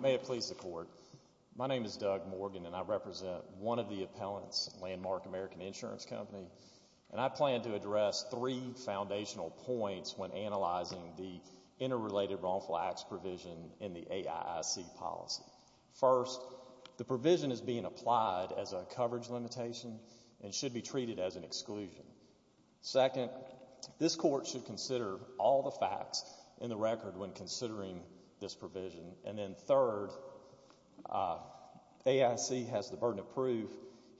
May it please the Court, my name is Doug Morgan and I represent one of the appellants, Landmark American Insurance Company, and I plan to address three foundational points when analyzing the interrelated wrongful acts provision in the AIIC policy. First, the provision is being applied as a coverage limitation and should be treated as an exclusion. Second, this Court should consider all the facts in the record when considering this provision. And then third, AIIC has the burden of proof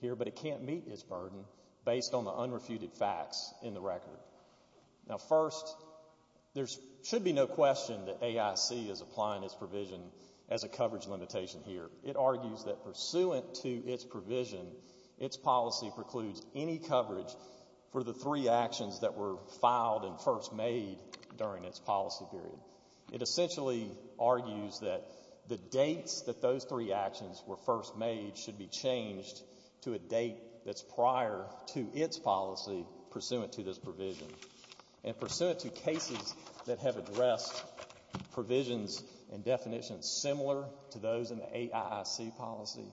here, but it can't meet its burden based on the unrefuted facts in the record. Now first, there should be no question that AIIC is applying its provision as a coverage limitation here. It argues that pursuant to its provision, its policy precludes any coverage for the three actions that were filed and first made during its policy period. It essentially argues that the dates that those three actions were first made should be changed to a date that's prior to its policy pursuant to this provision. And pursuant to cases that have addressed provisions and definitions similar to those in the AIIC policy,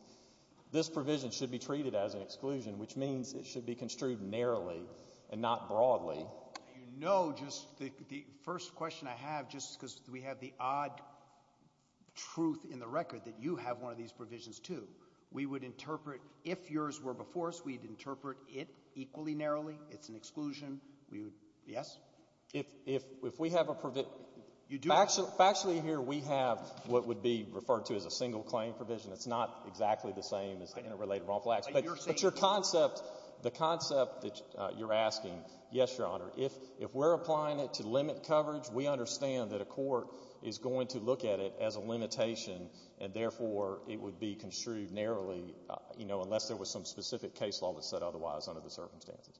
this provision should be treated as an exclusion, which means it should be construed narrowly and not broadly. You know, just the first question I have, just because we have the odd truth in the record that you have one of these provisions too. We would interpret, if yours were before us, we'd interpret it equally narrowly. It's an exclusion. Yes? If we have a provision, factually here we have what would be referred to as a single claim provision. It's not exactly the same as the Interrelated Wrongful Acts, but your concept, the concept that you're asking, yes, Your Honor, if we're applying it to limit coverage, we understand that a court is going to look at it as a limitation and therefore it would be construed narrowly, you know, unless there was some specific case law that said otherwise under the circumstances.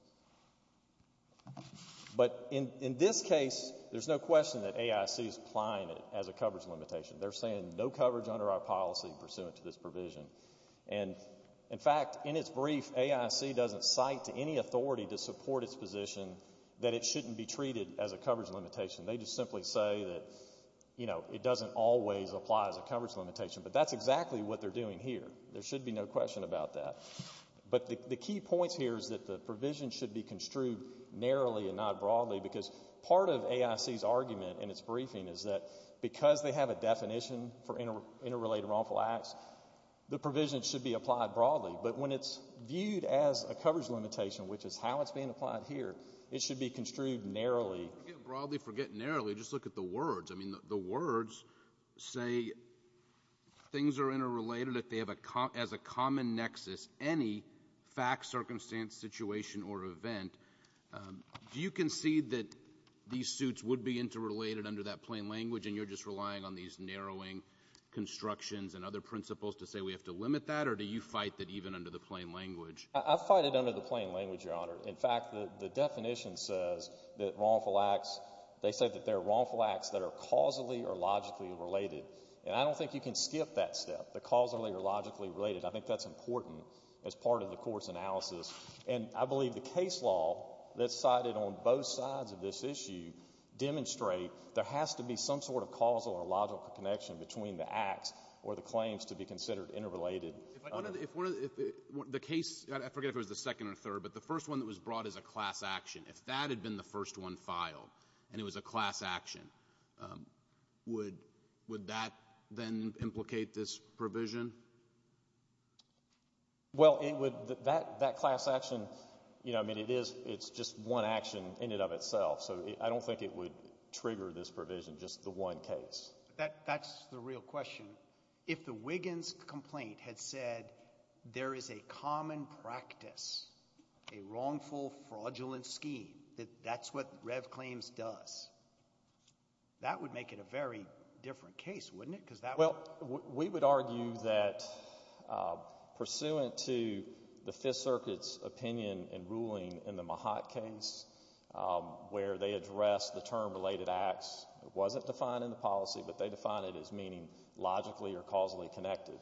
But, in this case, there's no question that AIIC is applying it as a coverage limitation. They're saying no coverage under our policy pursuant to this provision. And, in fact, in its brief, AIIC doesn't cite to any authority to support its position that it shouldn't be treated as a coverage limitation. They just simply say that, you know, it doesn't always apply as a coverage limitation, but that's exactly what they're doing here. There should be no question about that. But, the key point here is that the provision should be construed narrowly and not broadly because part of AIIC's argument in its briefing is that because they have a definition for Interrelated Wrongful Acts, the provision should be applied broadly. But, when it's viewed as a coverage limitation, which is how it's being applied here, it should be construed narrowly. I can't broadly forget narrowly. Just look at the words. I mean, the words say things are interrelated as a common nexus, any fact, circumstance, situation, or event. Do you concede that these suits would be interrelated under that plain language and you're just relying on these narrowing constructions and other principles to say we have to limit that, or do you fight that even under the plain language? I fight it under the plain language, Your Honor. In fact, the definition says that wrongful acts, they say that there are wrongful acts that are causally or logically related. And, I don't think you can skip that step, the causally or logically related. I think that's important as part of the court's analysis. And, I believe the case law that's cited on both sides of this issue demonstrate there has to be some sort of causal or logical connection between the acts or the claims to be considered interrelated. If one of the, the case, I forget if it was the second or third, but the first one that was brought is a class action. If that had been the first one filed and it was a class action, would, would that then implicate this provision? Well, it would, that, that class action, you know, I mean, it is, it's just one action in and of itself. So, I don't think it would trigger this provision, just the one case. That, that's the real question. If the Wiggins complaint had said, there is a common practice, a wrongful fraudulent scheme, that that's what Rev. Claims does, that would make it a very different case, wouldn't it? Well, we would argue that pursuant to the Fifth Circuit's opinion and ruling in the Mahat case, where they addressed the term related acts, it wasn't defined in the policy, but they defined it as meaning logically or causally connected.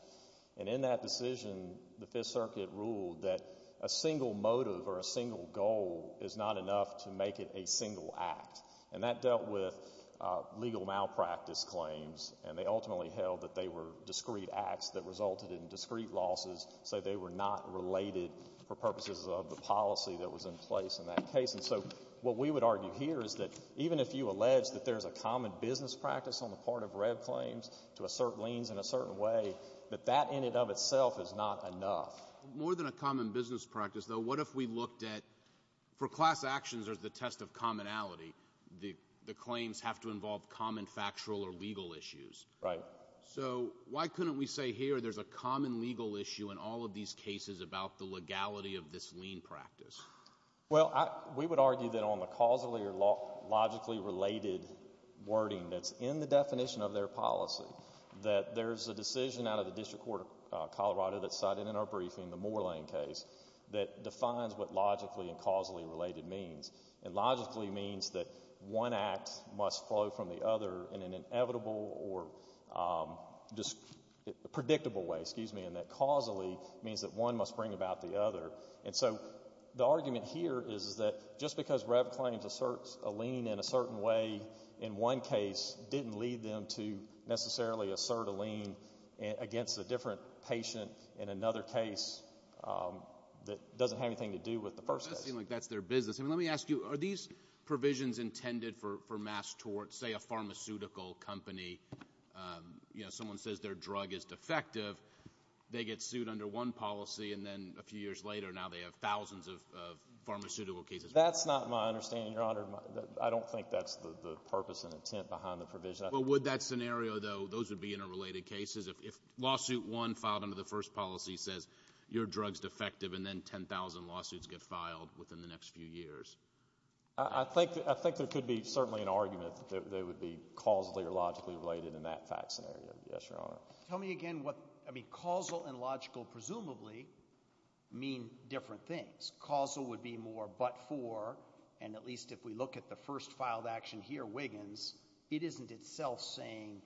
And in that decision, the Fifth Circuit ruled that a single motive or a single goal is not enough to make it a single act. And that dealt with legal malpractice claims, and they ultimately held that they were discrete acts that resulted in discrete losses, so they were not related for purposes of the policy that was in place in that case. And so, what we would argue here is that even if you allege that there's a common business practice on the part of Rev. Claims to assert liens in a certain way, that that in and of itself is not enough. More than a common business practice, though, what if we looked at, for class actions, there's the test of commonality. The claims have to involve common factual or legal issues. Right. So, why couldn't we say here there's a common legal issue in all of these cases about the legality of this lien practice? Well, we would argue that on the causally or logically related wording that's in the definition of their policy, that there's a decision out of the District Court of Colorado that's cited in our briefing, the Moorlane case, that defines what logically and causally related means. And logically means that one act must flow from the other in an inevitable or predictable way, excuse me, and that causally means that one must bring about the other. And so, the argument here is that just because Rev. Claims asserts a lien in a certain way in one case didn't lead them to necessarily assert a lien against a different patient in another case that doesn't have anything to do with the first case. Well, it does seem like that's their business. I mean, let me ask you, are these provisions intended for mass tort, say a pharmaceutical company, you know, someone says their drug is defective, they get sued under one policy and then a few years later now they have thousands of pharmaceutical cases? That's not my understanding, Your Honor. I don't think that's the purpose and intent behind the provision. Well, would that scenario, though, those would be interrelated cases? If lawsuit one filed under the first policy says your drug's defective and then 10,000 lawsuits get filed within the next few years? I think there could be certainly an argument that they would be causally or logically related in that fact scenario. Yes, Your Honor. Tell me again what, I mean, causal and logical presumably mean different things. Causal would be more but for, and at least if we look at the first filed action here, Wiggins, it isn't itself saying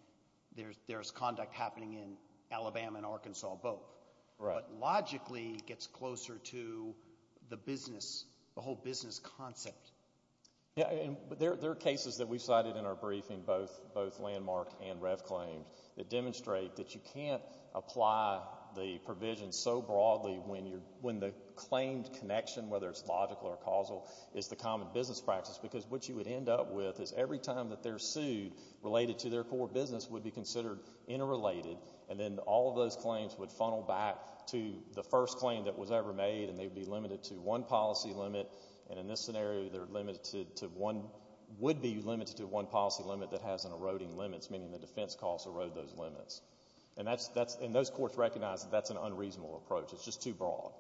there's conduct happening in Alabama and Arkansas both. Right. But logically gets closer to the business, the whole business concept. Yeah, and there are cases that we cited in our briefing, both landmark and rev claims, that demonstrate that you can't apply the provision so broadly when the claimed connection, whether it's logical or causal, is the common business practice because what you would end up with is every time that they're sued related to their core business would be considered interrelated and then all of those claims would funnel back to the first claim that was ever made and they'd be limited to one policy limit. And in this scenario they're limited to one, would be limited to one policy limit that and the defense costs erode those limits. And that's, and those courts recognize that that's an unreasonable approach. It's just too broad.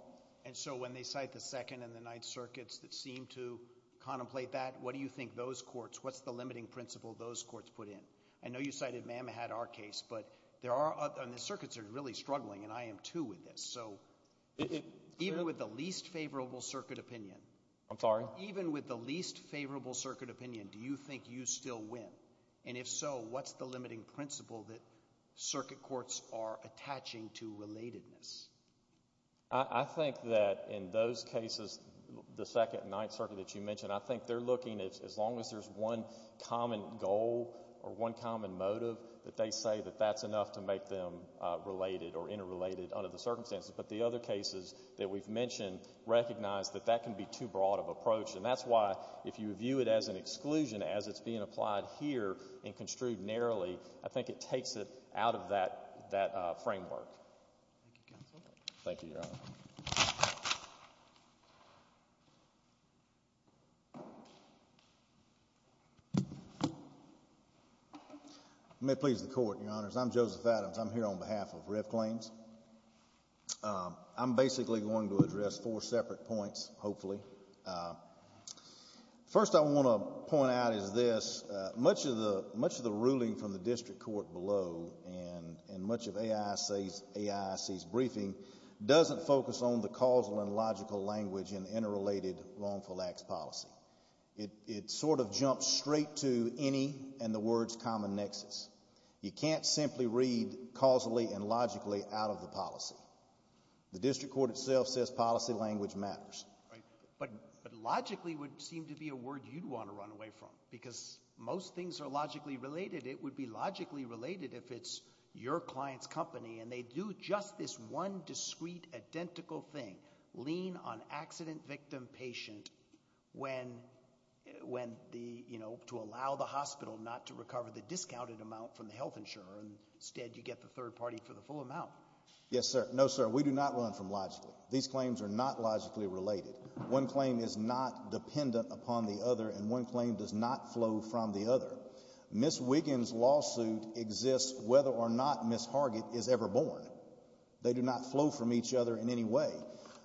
And so when they cite the Second and the Ninth Circuits that seem to contemplate that, what do you think those courts, what's the limiting principle those courts put in? I know you cited, ma'am, had our case, but there are, and the circuits are really struggling and I am too with this. So even with the least favorable circuit opinion. I'm sorry? Even with the least favorable circuit opinion, do you think you still win? And if so, what's the limiting principle that circuit courts are attaching to relatedness? I think that in those cases, the Second and Ninth Circuit that you mentioned, I think they're looking at as long as there's one common goal or one common motive that they say that that's enough to make them related or interrelated under the circumstances. But the other cases that we've mentioned recognize that that can be too broad of an approach and that's why if you view it as an exclusion as it's being applied here and construed narrowly, I think it takes it out of that framework. Thank you, counsel. Thank you, Your Honor. May it please the Court, Your Honors. I'm Joseph Adams. I'm here on behalf of Riv Claims. I'm basically going to address four separate points, hopefully. First, I want to point out is this. Much of the ruling from the district court below and much of AISC's briefing doesn't focus on the causal and logical language in interrelated wrongful acts policy. It sort of jumps straight to any and the word's common nexus. You can't simply read causally and logically out of the policy. The district court itself says policy language matters. But logically would seem to be a word you'd want to run away from because most things are logically related. It would be logically related if it's your client's company and they do just this one discrete identical thing, lean on accident victim patient when the, you know, to allow the hospital not to recover the discounted amount from the health insurer. Instead, you get the third party for the full amount. Yes, sir. No, sir. We do not run from logically. These claims are not logically related. One claim is not dependent upon the other and one claim does not flow from the other. Ms. Wiggins' lawsuit exists whether or not Ms. Hargett is ever born. They do not flow from each other in any way.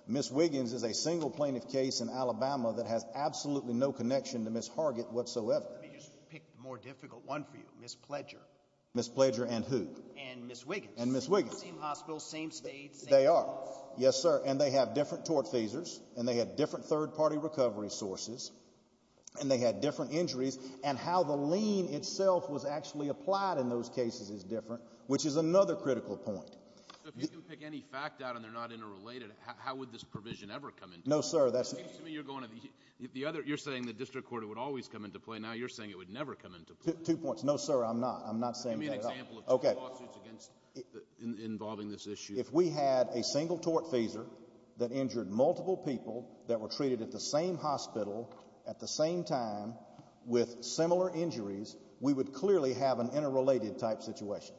Ms. Wiggins is a single plaintiff case in Alabama that has absolutely no connection to Ms. Hargett whatsoever. Let me just pick the more difficult one for you. Ms. Pledger. Ms. Pledger and who? And Ms. Wiggins. And Ms. Wiggins. Same hospital, same state, same office. They are. Yes, sir. And they have different tort feasors and they had different third party recovery sources and they had different injuries and how the lean itself was actually applied in those cases is different, which is another critical point. If you can pick any fact out and they're not interrelated, how would this provision ever come into play? No, sir. You're saying the district court would always come into play. Now you're saying it would never come into play. Two points. No, sir. I'm not. I'm not saying that. Give me an example of two lawsuits involving this issue. If we had a single tort feasor that injured multiple people that were treated at the same hospital at the same time with similar injuries, we would clearly have an interrelated type situation.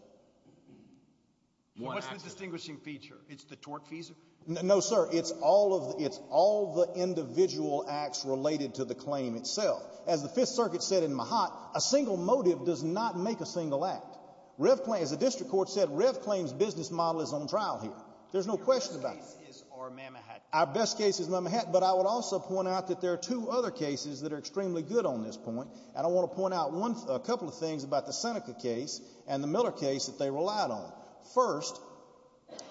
What's the distinguishing feature? It's the tort feasor? No, sir. It's all the individual acts related to the claim itself. As the Fifth Circuit said in Mahat, a single motive does not make a single act. As the district court said, Rev Claim's business model is on trial here. There's no question about it. Your best cases are Mamahat. Our best cases are Mamahat, but I would also point out that there are two other cases that are extremely good on this point and I want to point out a couple of things about the Seneca case and the Miller case that they relied on. First,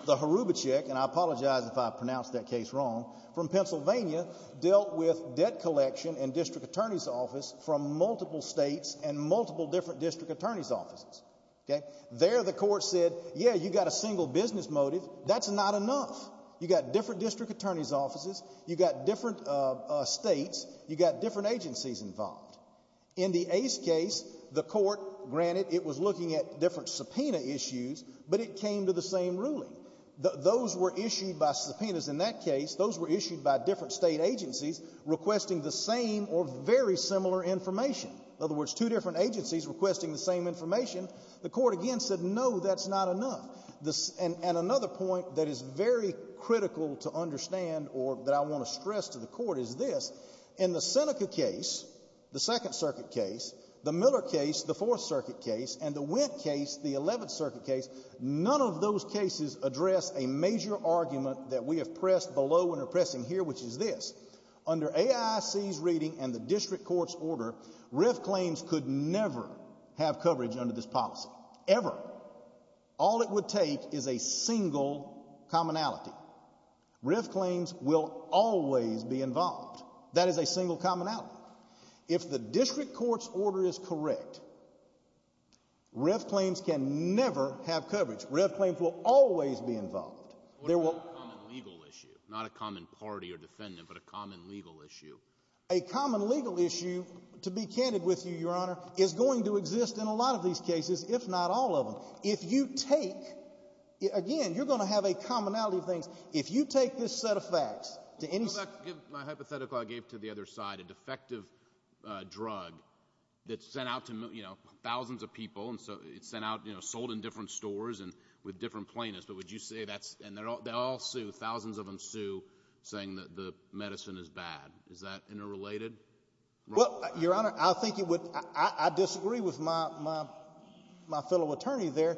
the Hrubacek, and I apologize if I pronounced that case wrong, from Pennsylvania dealt with debt collection and district attorney's office from multiple states and multiple different district attorney's offices. There the court said, yeah, you've got a single business motive. That's not enough. You've got different district attorney's offices. You've got different states. You've got different agencies involved. In the Ace case, the court, granted it was looking at different subpoena issues, but it came to the same ruling. Those were issued by subpoenas in that case. Those were issued by different state agencies requesting the same or very similar information. In other words, two different agencies requesting the same information. The court again said, no, that's not enough. And another point that is very critical to understand or that I want to stress to the case, the Miller case, the Fourth Circuit case, and the Wendt case, the Eleventh Circuit case, none of those cases address a major argument that we have pressed below and are pressing here, which is this. Under AIC's reading and the district court's order, RIF claims could never have coverage under this policy, ever. All it would take is a single commonality. RIF claims will always be involved. That is a single commonality. If the district court's order is correct, RIF claims can never have coverage. RIF claims will always be involved. What about a common legal issue? Not a common party or defendant, but a common legal issue. A common legal issue, to be candid with you, Your Honor, is going to exist in a lot of these cases, if not all of them. If you take, again, you're going to have a commonality of things. If you take this set of facts to any... Well, what about my hypothetical I gave to the other side, a defective drug that's sent out to thousands of people, and it's sold in different stores and with different plaintiffs, but would you say that's... And they all sue, thousands of them sue, saying that the medicine is bad. Is that interrelated? Well, Your Honor, I disagree with my fellow attorney there.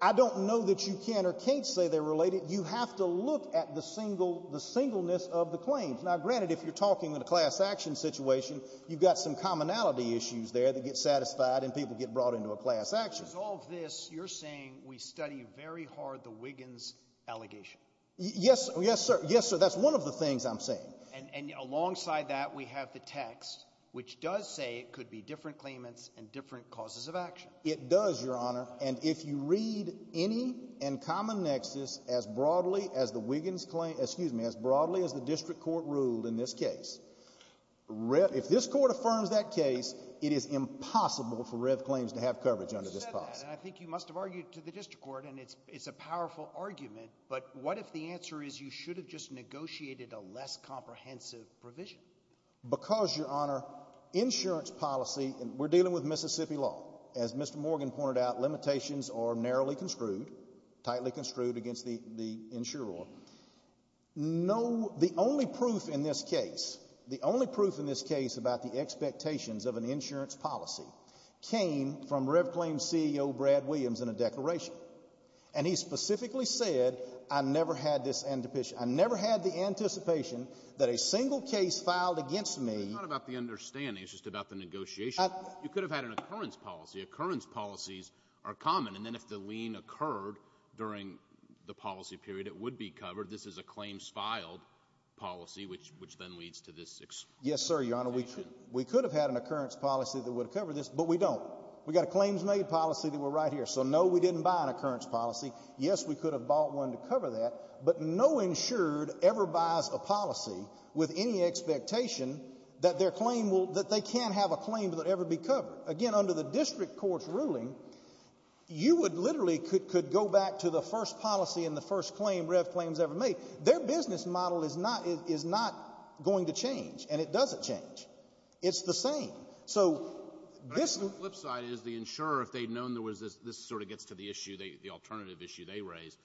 I don't know that you can or can't say they're related. You have to look at the singleness of the claims. Now, granted, if you're talking in a class action situation, you've got some commonality issues there that get satisfied and people get brought into a class action. Because of all of this, you're saying we study very hard the Wiggins allegation? Yes, sir. That's one of the things I'm saying. And alongside that, we have the text, which does say it could be different claimants and different causes of action. It does, Your Honor. And if you read any and common nexus as broadly as the Wiggins claim... Excuse me, as broadly as the district court ruled in this case, if this court affirms that case, it is impossible for Rev claims to have coverage under this policy. You said that, and I think you must have argued to the district court, and it's a powerful argument, but what if the answer is you should have just negotiated a less comprehensive provision? Because, Your Honor, insurance policy... We're dealing with Mississippi law. As Mr. Morgan pointed out, limitations are narrowly construed, tightly construed against the insurer. The only proof in this case, the only proof in this case about the expectations of an insurance policy came from Rev claims CEO Brad Williams in a declaration. And he specifically said, I never had the anticipation that a single case filed against me... You could have had an occurrence policy. Occurrence policies are common, and then if the lien occurred during the policy period, it would be covered. This is a claims filed policy, which then leads to this explanation. Yes, sir, Your Honor. We could have had an occurrence policy that would cover this, but we don't. We got a claims made policy that were right here. So, no, we didn't buy an occurrence policy. Yes, we could have bought one to cover that, but no insured ever buys a policy with any expectation that their claim will, that they can't have a claim that will ever be covered. Again, under the district court's ruling, you would literally could go back to the first policy and the first claim Rev claims ever made. Their business model is not going to change, and it doesn't change. It's the same. So, this... But I think the flip side is the insurer, if they'd known there was this, this sort of gets to the issue, the alternative issue they raise.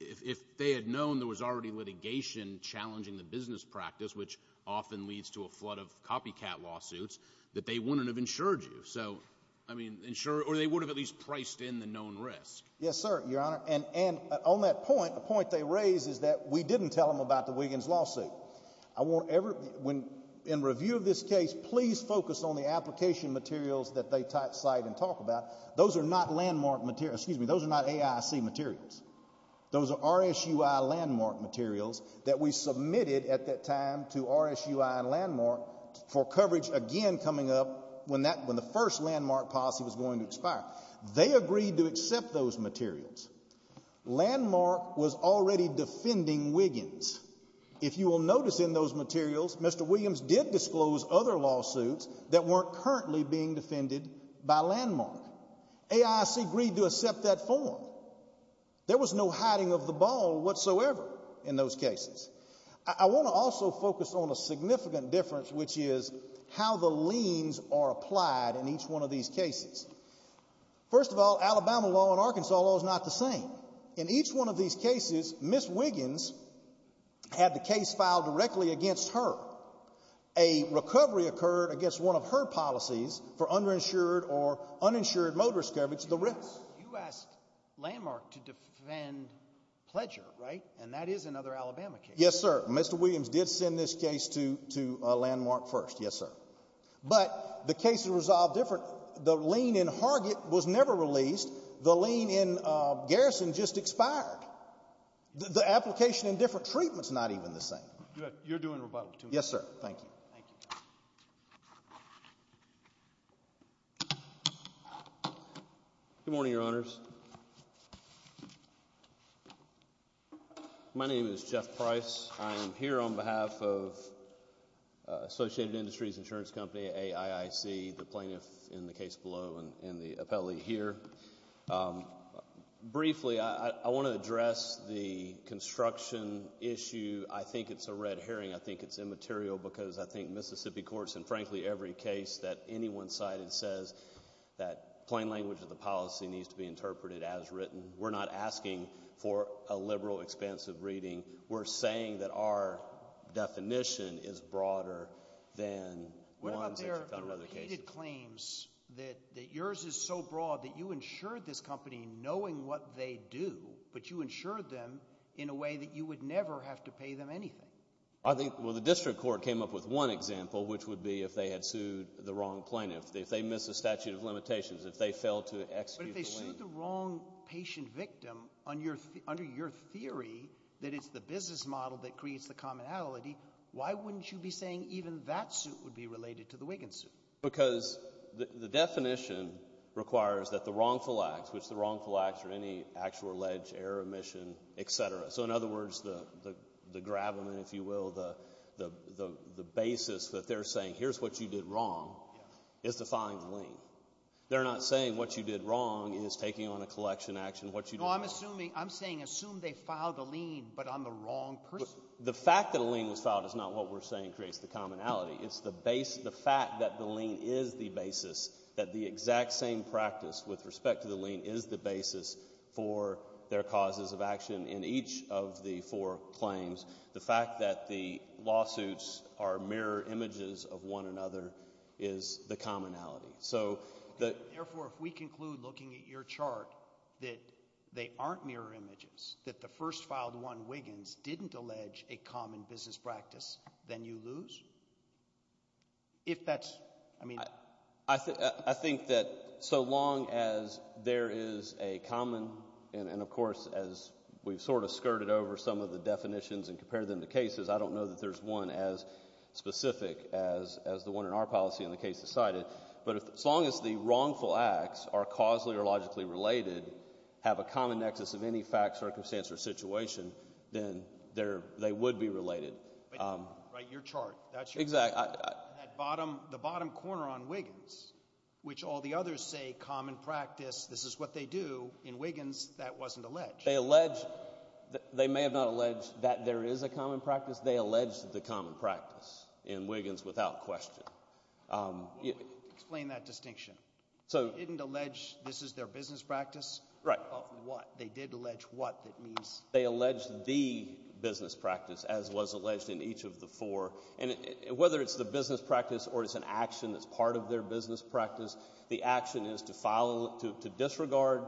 If they had known there was already litigation challenging the business practice, which often leads to a flood of copycat lawsuits, that they wouldn't have insured you. So, I mean, insurer... Or they would have at least priced in the known risk. Yes, sir, Your Honor. And on that point, the point they raise is that we didn't tell them about the Wiggins lawsuit. I won't ever... In review of this case, please focus on the application materials that they cite and talk about. Those are not landmark materials. Excuse me. Those are not AIC materials. Those are RSUI landmark materials that we submitted at that time to RSUI and Landmark for coverage again coming up when the first landmark policy was going to expire. They agreed to accept those materials. Landmark was already defending Wiggins. If you will notice in those materials, Mr. Williams did disclose other lawsuits that weren't currently being defended by Landmark. AIC agreed to accept that form. There was no hiding of the ball whatsoever in those cases. I want to also focus on a significant difference, which is how the liens are applied in each one of these cases. First of all, Alabama law and Arkansas law is not the same. In each one of these cases, Ms. Wiggins had the case filed directly against her. A recovery occurred against one of her policies for underinsured or uninsured motorist coverage, the risks. You asked Landmark to defend Pledger, right? And that is another Alabama case. Yes, sir. Mr. Williams did send this case to Landmark first. Yes, sir. But the case is resolved differently. The lien in Hargett was never released. The lien in Garrison just expired. The application in different treatments is not even the same. You're doing rebuttal to me. Yes, sir. Thank you. Good morning, Your Honors. My name is Jeff Price. I am here on behalf of Associated Industries Insurance Company, AIIC, the plaintiff in the case below, and the appellee here. Briefly, I want to address the construction issue. I think it's a red herring. I think it's immaterial because I think Mississippi Courts, in frankly every case that anyone cited, says that plain language of the policy needs to be interpreted as written. We're not asking for a liberal, expansive reading. We're saying that our definition is broader than one of the other cases. The district claims that yours is so broad that you insured this company knowing what they do, but you insured them in a way that you would never have to pay them anything. Well, the district court came up with one example, which would be if they had sued the wrong plaintiff, if they missed a statute of limitations, if they failed to execute the lien. But if they sued the wrong patient victim under your theory that it's the business model that creates the commonality, why wouldn't you be saying even that suit would be related to the Wiggins suit? Because the definition requires that the wrongful acts, which the wrongful acts are any actual alleged error, omission, etc. So in other words, the gravamen, if you will, the basis that they're saying, here's what you did wrong, is the filing the lien. They're not saying what you did wrong is taking on a collection action, what you did wrong No, I'm saying assume they filed the lien, but on the wrong person. The fact that a lien was filed is not what we're saying creates the commonality. It's the fact that the lien is the basis, that the exact same practice with respect to the lien is the basis for their causes of action in each of the four claims. The fact that the lawsuits are mirror images of one another is the commonality. Therefore, if we conclude looking at your chart that they aren't mirror images, that the first filed one, Wiggins, didn't allege a common business practice, then you lose? If that's, I mean I think that so long as there is a common, and of course, as we've sort of skirted over some of the definitions and compared them to cases, I don't know that there's one as specific as the one in our policy and the case decided. But as long as the wrongful acts are causally or logically related, have a common nexus of any fact, circumstance, or situation, then they would be related. Right, your chart. Exactly. The bottom corner on Wiggins, which all the others say common practice, this is what they do, in Wiggins that wasn't alleged. They allege, they may have not alleged that there is a common practice, they allege the common practice in Wiggins without question. Explain that distinction. So They didn't allege this is their business practice? Right. Of what? They did allege what that means? They allege the business practice as was alleged in each of the four. And whether it's the business practice or it's an action that's part of their business practice, the action is to disregard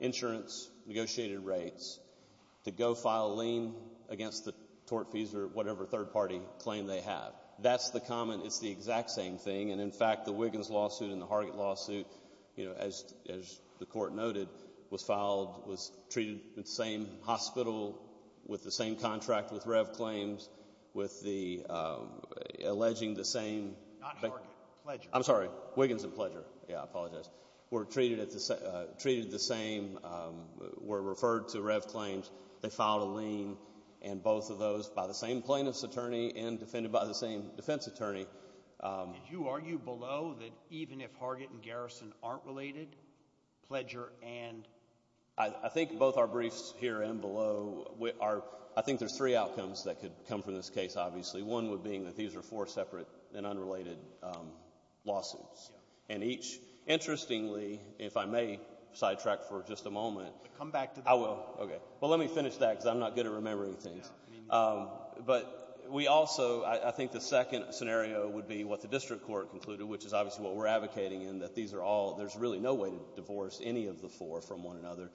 insurance, negotiated rates, to go file a lien against the tort fees or whatever third party claim they have. That's the common, it's the exact same thing. And in fact, the Wiggins lawsuit and the Hargett lawsuit, as the court noted, was filed, was treated in the same hospital, with the same contract with Rev Claims, with the alleging the same Not Hargett. Pleasure. I'm sorry. Wiggins and Pleasure. Yeah, I apologize. Were treated the same, were referred to Rev Claims, they filed a lien, and both of those by the same plaintiff's attorney and defended by the same defense attorney. Did you argue below that even if Hargett and Garrison aren't related, Pleasure and I think both our briefs here and below, I think there's three outcomes that could come from this case, obviously. One would be that these are four separate and unrelated lawsuits. And each, interestingly, if I may sidetrack for just a moment. Come back to that. I will, okay. But let me finish that because I'm not good at remembering things. But we also, I think the second scenario would be what the district court concluded, which is obviously what we're advocating in, that these are all, there's really no way to divorce any of the four from one another.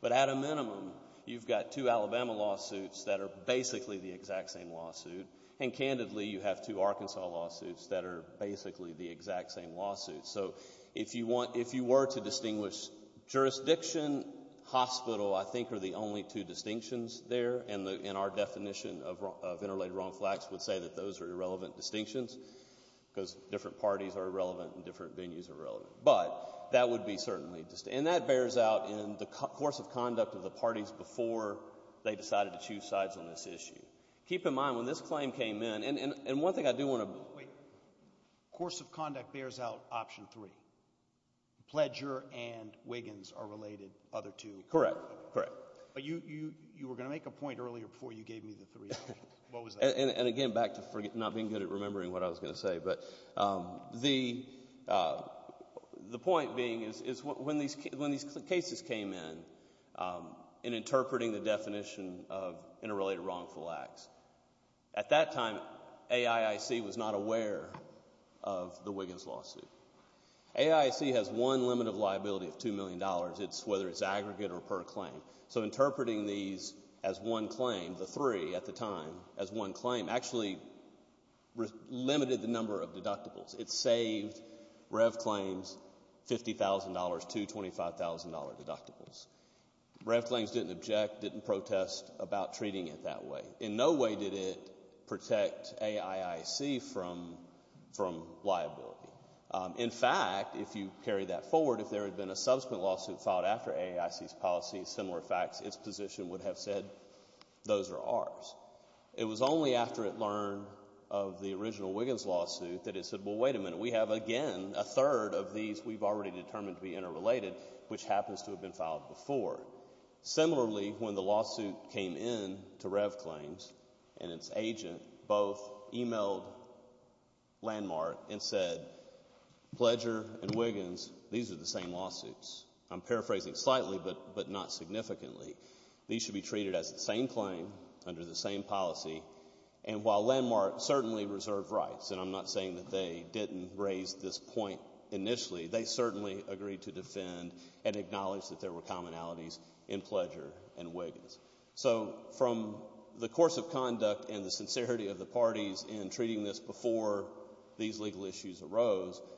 But at a minimum, you've got two Alabama lawsuits that are basically the exact same lawsuit, and candidly, you have two Arkansas lawsuits that are basically the exact same lawsuit. So if you were to distinguish jurisdiction, hospital, I think are the only two distinctions there. And our definition of interrelated wrongful acts would say that those are irrelevant distinctions because different parties are irrelevant and different venues are relevant. But that would be certainly, and that bears out in the course of conduct of the parties before they decided to choose sides on this issue. Keep in mind, when this claim came in, and one thing I do want to. Wait. Course of conduct bears out option three. Pleasure and Wiggins are related, other two. Correct. Correct. But you were going to make a point earlier before you gave me the three. What was that? And again, back to not being good at remembering what I was going to say, but the point being is when these cases came in, in interpreting the definition of interrelated wrongful acts, at that time, AIIC was not aware of the Wiggins lawsuit. AIIC has one limit of liability of $2 million, whether it's aggregate or per claim. So interpreting these as one claim, the three at the time, as one claim, actually limited the number of deductibles. It saved Rev claims $50,000 to $25,000 deductibles. Rev claims didn't object, didn't protest about treating it that way. In no way did it protect AIIC from liability. In fact, if you carry that forward, if there had been a subsequent lawsuit filed after FACTS, its position would have said, those are ours. It was only after it learned of the original Wiggins lawsuit that it said, well, wait a minute. We have, again, a third of these we've already determined to be interrelated, which happens to have been filed before. Similarly, when the lawsuit came in to Rev claims and its agent, both emailed Landmark and said, Pledger and Wiggins, these are the same lawsuits. I'm paraphrasing slightly, but not significantly. These should be treated as the same claim under the same policy. And while Landmark certainly reserved rights, and I'm not saying that they didn't raise this point initially, they certainly agreed to defend and acknowledge that there were commonalities in Pledger and Wiggins. So from the course of conduct and the sincerity of the parties in treating this before these AIIC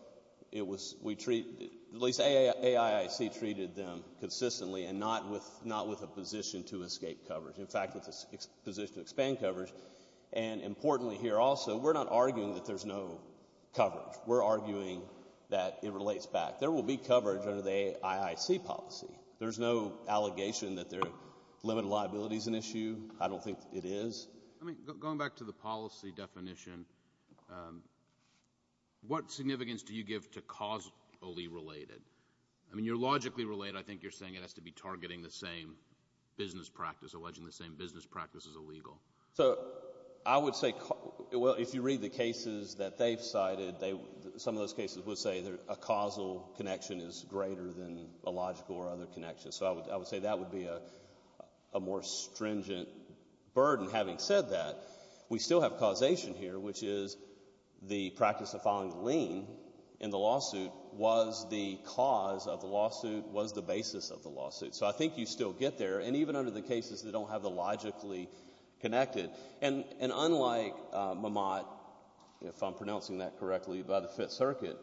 treated them consistently and not with a position to escape coverage. In fact, it's a position to expand coverage. And importantly here also, we're not arguing that there's no coverage. We're arguing that it relates back. There will be coverage under the AIIC policy. There's no allegation that limited liability is an issue. I don't think it is. I mean, going back to the policy definition, what significance do you give to causally related? I mean, you're logically related. I think you're saying it has to be targeting the same business practice, alleging the same business practice is illegal. So I would say, well, if you read the cases that they've cited, some of those cases would say a causal connection is greater than a logical or other connection. So I would say that would be a more stringent burden. Having said that, we still have causation here, which is the practice of filing a lien in the lawsuit was the cause of the lawsuit, was the basis of the lawsuit. So I think you still get there. And even under the cases that don't have the logically connected. And unlike Mamotte, if I'm pronouncing that correctly, by the Fifth Circuit,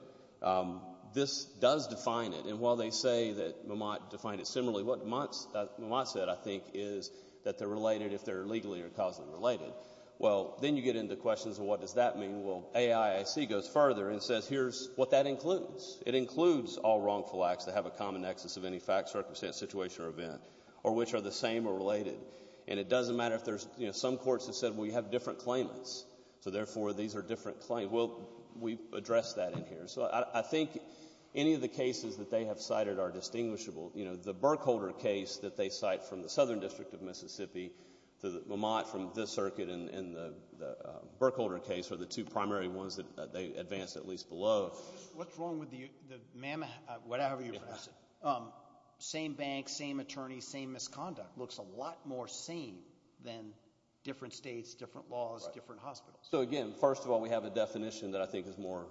this does define it. And while they say that Mamotte defined it similarly, what Mamotte said, I think, is that they're related if they're legally or causally related. Well, then you get into questions of what does that mean? Well, AIAC goes further and says here's what that includes. It includes all wrongful acts that have a common nexus of any fact, circumstance, situation, or event, or which are the same or related. And it doesn't matter if there's some courts that said, well, you have different claimants, so therefore these are different claims. Well, we address that in here. So I think any of the cases that they have cited are distinguishable. You know, the Berkholder case that they cite from the Southern District of Mississippi, the Mamotte from this circuit, and the Berkholder case are the two primary ones that they advance at least below. What's wrong with the Mammoth, whatever you pronounce it, same bank, same attorney, same misconduct, looks a lot more same than different states, different laws, different hospitals. So, again, first of all, we have a definition that I think is more.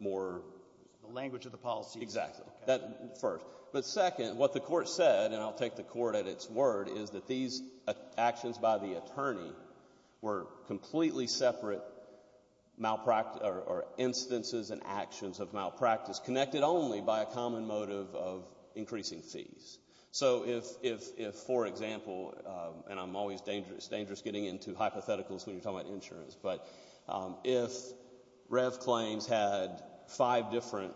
The language of the policy. Exactly. That first. But second, what the court said, and I'll take the court at its word, is that these actions by the attorney were completely separate instances and actions of malpractice connected only by a common motive of increasing fees. So if, for example, and I'm always dangerous getting into hypotheticals when you're talking about insurance, but if Rev claims had five different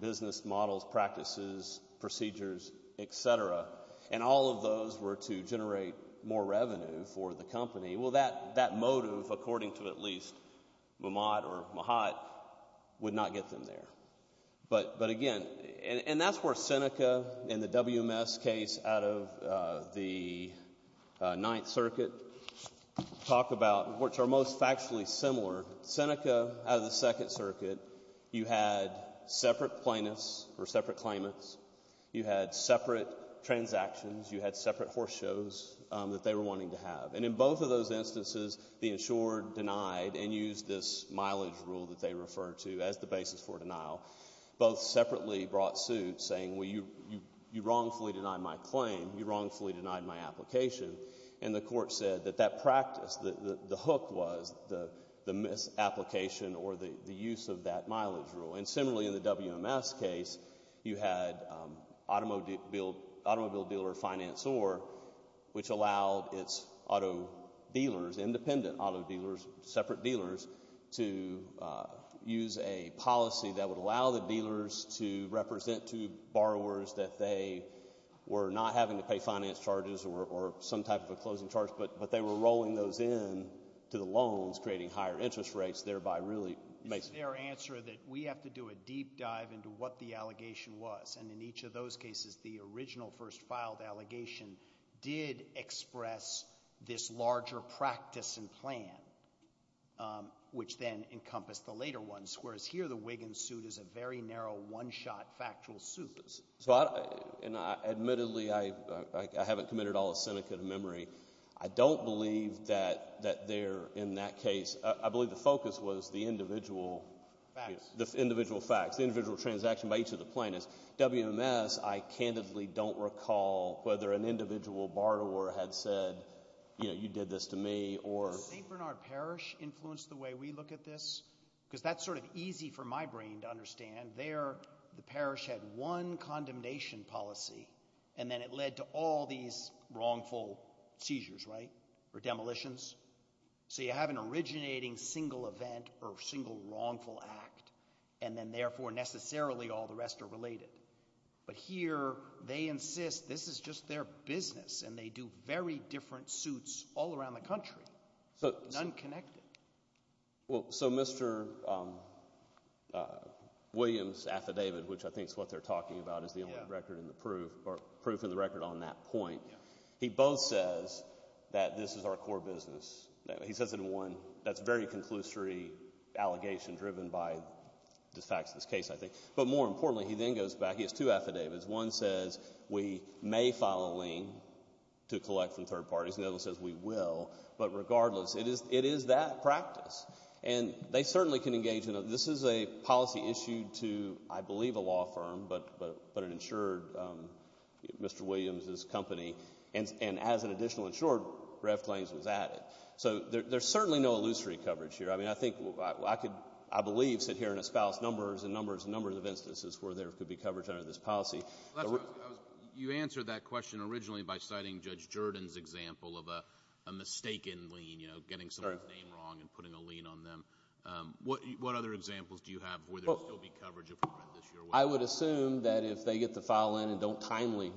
business models, practices, procedures, et cetera, and all of those were to generate more revenue for the company, well that motive, according to at least Mammotte or Mahat, would not get them there. But, again, and that's where Seneca in the WMS case out of the Ninth Circuit talk about, which are most factually similar, Seneca out of the Second Circuit, you had separate plaintiffs or separate claimants. You had separate transactions. You had separate horse shows that they were wanting to have. And in both of those instances, the insured denied and used this mileage rule that they refer to as the basis for denial. Both separately brought suit saying, well, you wrongfully denied my claim. You wrongfully denied my application. And the court said that that practice, that the hook was the misapplication or the use of that mileage rule. And similarly in the WMS case, you had automobile dealer financer, which allowed its auto dealers, independent auto dealers, separate dealers, to use a policy that would allow the dealers to represent to borrowers that they were not having to pay finance charges or some type of a closing charge, but they were rolling those in to the loans, creating higher interest rates, thereby really making. It's their answer that we have to do a deep dive into what the allegation was. And in each of those cases, the original first filed allegation did express this larger practice and plan, which then encompassed the later ones, whereas here the Wiggins suit is a very narrow one-shot factual suit. Admittedly, I haven't committed all of Seneca to memory. I don't believe that they're in that case. I believe the focus was the individual facts, the individual transaction by each of the plaintiffs. WMS, I candidly don't recall whether an individual borrower had said, you know, you did this to me or... Did St. Bernard Parish influence the way we look at this? And there the parish had one condemnation policy, and then it led to all these wrongful seizures, right, or demolitions. So you have an originating single event or single wrongful act, and then therefore necessarily all the rest are related. But here they insist this is just their business, and they do very different suits all around the country, none connected. Well, so Mr. Williams' affidavit, which I think is what they're talking about, is the only record in the proof or proof in the record on that point. He both says that this is our core business. He says it in one that's a very conclusory allegation driven by the facts of this case, I think. But more importantly, he then goes back. He has two affidavits. One says we may file a lien to collect from third parties. The other one says we will. But regardless, it is that practice. And they certainly can engage in it. This is a policy issued to, I believe, a law firm, but an insured Mr. Williams' company. And as an additional insured, Rev. Claims was added. So there's certainly no illusory coverage here. I mean, I think I could, I believe, sit here and espouse numbers and numbers and numbers of instances where there could be coverage under this policy. You answered that question originally by citing Judge Jordan's example of a mistaken lien, you know, getting someone's name wrong and putting a lien on them. What other examples do you have where there would still be coverage if we read this your way? I would assume that if they get the file in and don't timely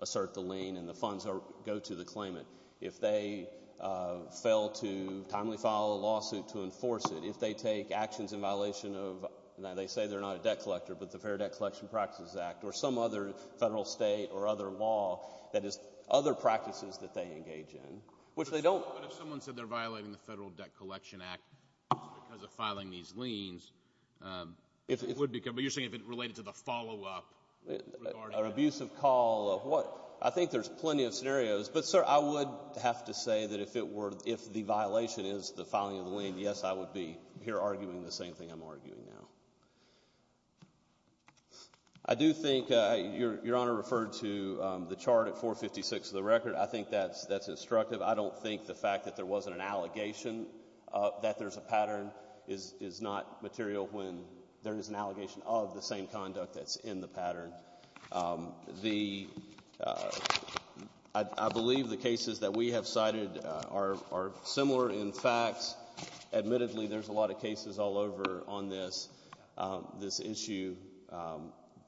assert the lien and the funds go to the claimant, if they fail to timely file a lawsuit to enforce it, if they take actions in violation of, now they say they're not a debt collector, but the Fair Debt Collection Practices Act or some other federal, state, or other law that is other practices that they engage in, which they don't. But if someone said they're violating the Federal Debt Collection Act because of filing these liens, but you're saying if it related to the follow-up regarding it? An abusive call of what? I think there's plenty of scenarios. But, sir, I would have to say that if the violation is the filing of the lien, yes, I would be here arguing the same thing I'm arguing now. I do think your Honor referred to the chart at 456 of the record. I think that's instructive. I don't think the fact that there wasn't an allegation that there's a pattern is not material when there is an allegation of the same conduct that's in the pattern. I believe the cases that we have cited are similar in fact. Admittedly, there's a lot of cases all over on this issue.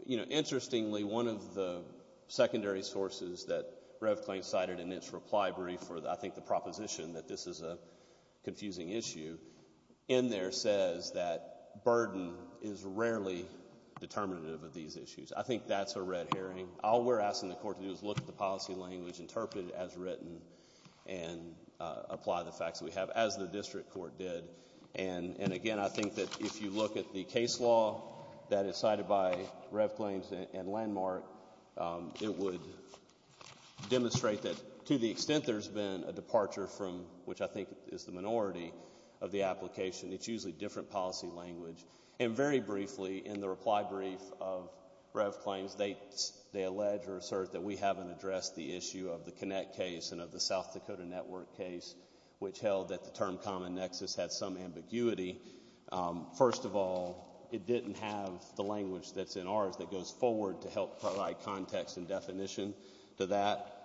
Interestingly, one of the secondary sources that Revklane cited in its reply brief, I think the proposition that this is a confusing issue, in there says that burden is rarely determinative of these issues. I think that's a red herring. All we're asking the court to do is look at the policy language, interpret it as written, and apply the facts that we have, as the district court did. And, again, I think that if you look at the case law that is cited by Revklane and Landmark, it would demonstrate that to the extent there's been a departure from, which I think is the minority of the application, it's usually different policy language. And very briefly, in the reply brief of Revklane's, they allege or assert that we haven't addressed the issue of the Connect case and of the South Dakota Network case, which held that the term common nexus had some ambiguity. First of all, it didn't have the language that's in ours that goes forward to help provide context and definition to that.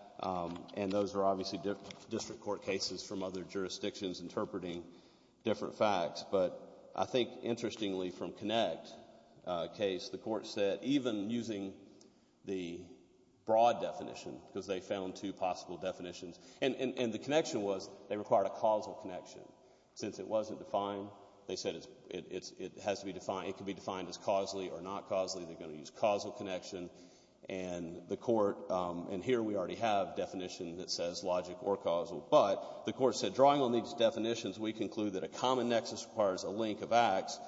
And those are obviously district court cases from other jurisdictions interpreting different facts. But I think, interestingly, from Connect case, the court said, even using the broad definition, because they found two possible definitions, and the connection was they required a causal connection. Since it wasn't defined, they said it has to be defined. It could be defined as causally or not causally. They're going to use causal connection. And the court, and here we already have definition that says logic or causal. But the court said, drawing on these definitions, we conclude that a common nexus requires a link of acts.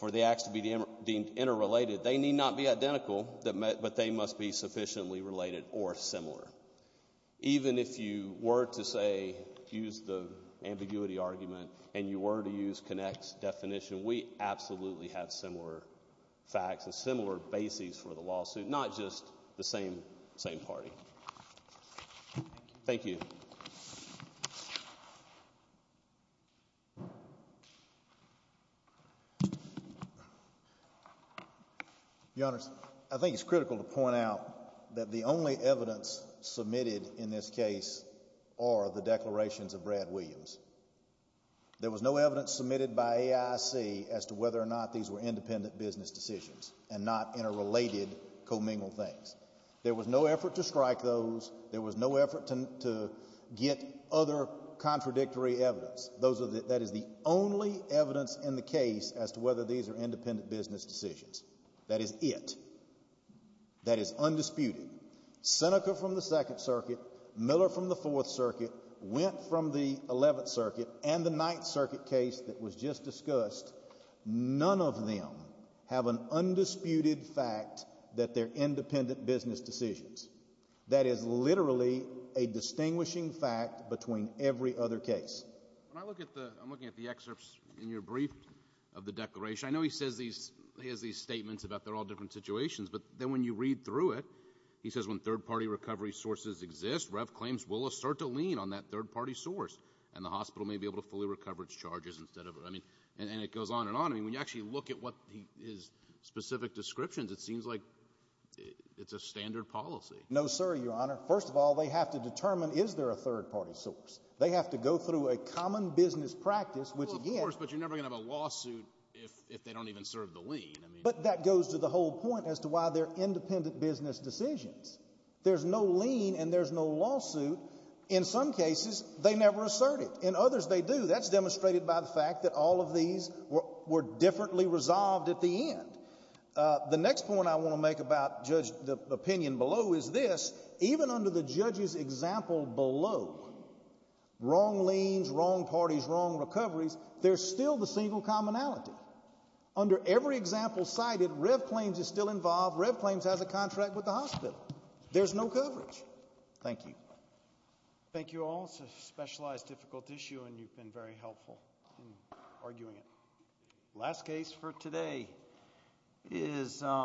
For the acts to be deemed interrelated, they need not be identical, but they must be sufficiently related or similar. Even if you were to, say, use the ambiguity argument and you were to use Connect's definition, we absolutely have similar facts and similar bases for the lawsuit, not just the same party. Thank you. Your Honors, I think it's critical to point out that the only evidence submitted in this case are the declarations of Brad Williams. There was no evidence submitted by AIC as to whether or not these were independent business decisions and not interrelated, commingled things. There was no effort to strike those. There was no effort to get other contradictory evidence. That is the only evidence in the case as to whether these are independent business decisions. That is it. That is undisputed. Seneca from the Second Circuit, Miller from the Fourth Circuit, Wendt from the Eleventh Circuit, and the Ninth Circuit case that was just discussed, none of them have an undisputed fact that they're independent business decisions. That is literally a distinguishing fact between every other case. When I look at the – I'm looking at the excerpts in your brief of the declaration, I know he says these – he has these statements about they're all different situations, but then when you read through it, he says when third-party recovery sources exist, REV claims will assert a lien on that third-party source, and the hospital may be able to fully recover its charges instead of – and it goes on and on. When you actually look at his specific descriptions, it seems like it's a standard policy. No, sir, Your Honor. First of all, they have to determine is there a third-party source. They have to go through a common business practice, which again – Well, of course, but you're never going to have a lawsuit if they don't even serve the lien. But that goes to the whole point as to why they're independent business decisions. There's no lien and there's no lawsuit. In some cases, they never assert it. In others, they do. That's demonstrated by the fact that all of these were differently resolved at the end. The next point I want to make about, Judge, the opinion below is this. Even under the judge's example below, wrong liens, wrong parties, wrong recoveries, there's still the single commonality. Under every example cited, REV claims is still involved. REV claims has a contract with the hospital. There's no coverage. Thank you. Thank you all. It's a specialized difficult issue, and you've been very helpful in arguing it. Last case for today is –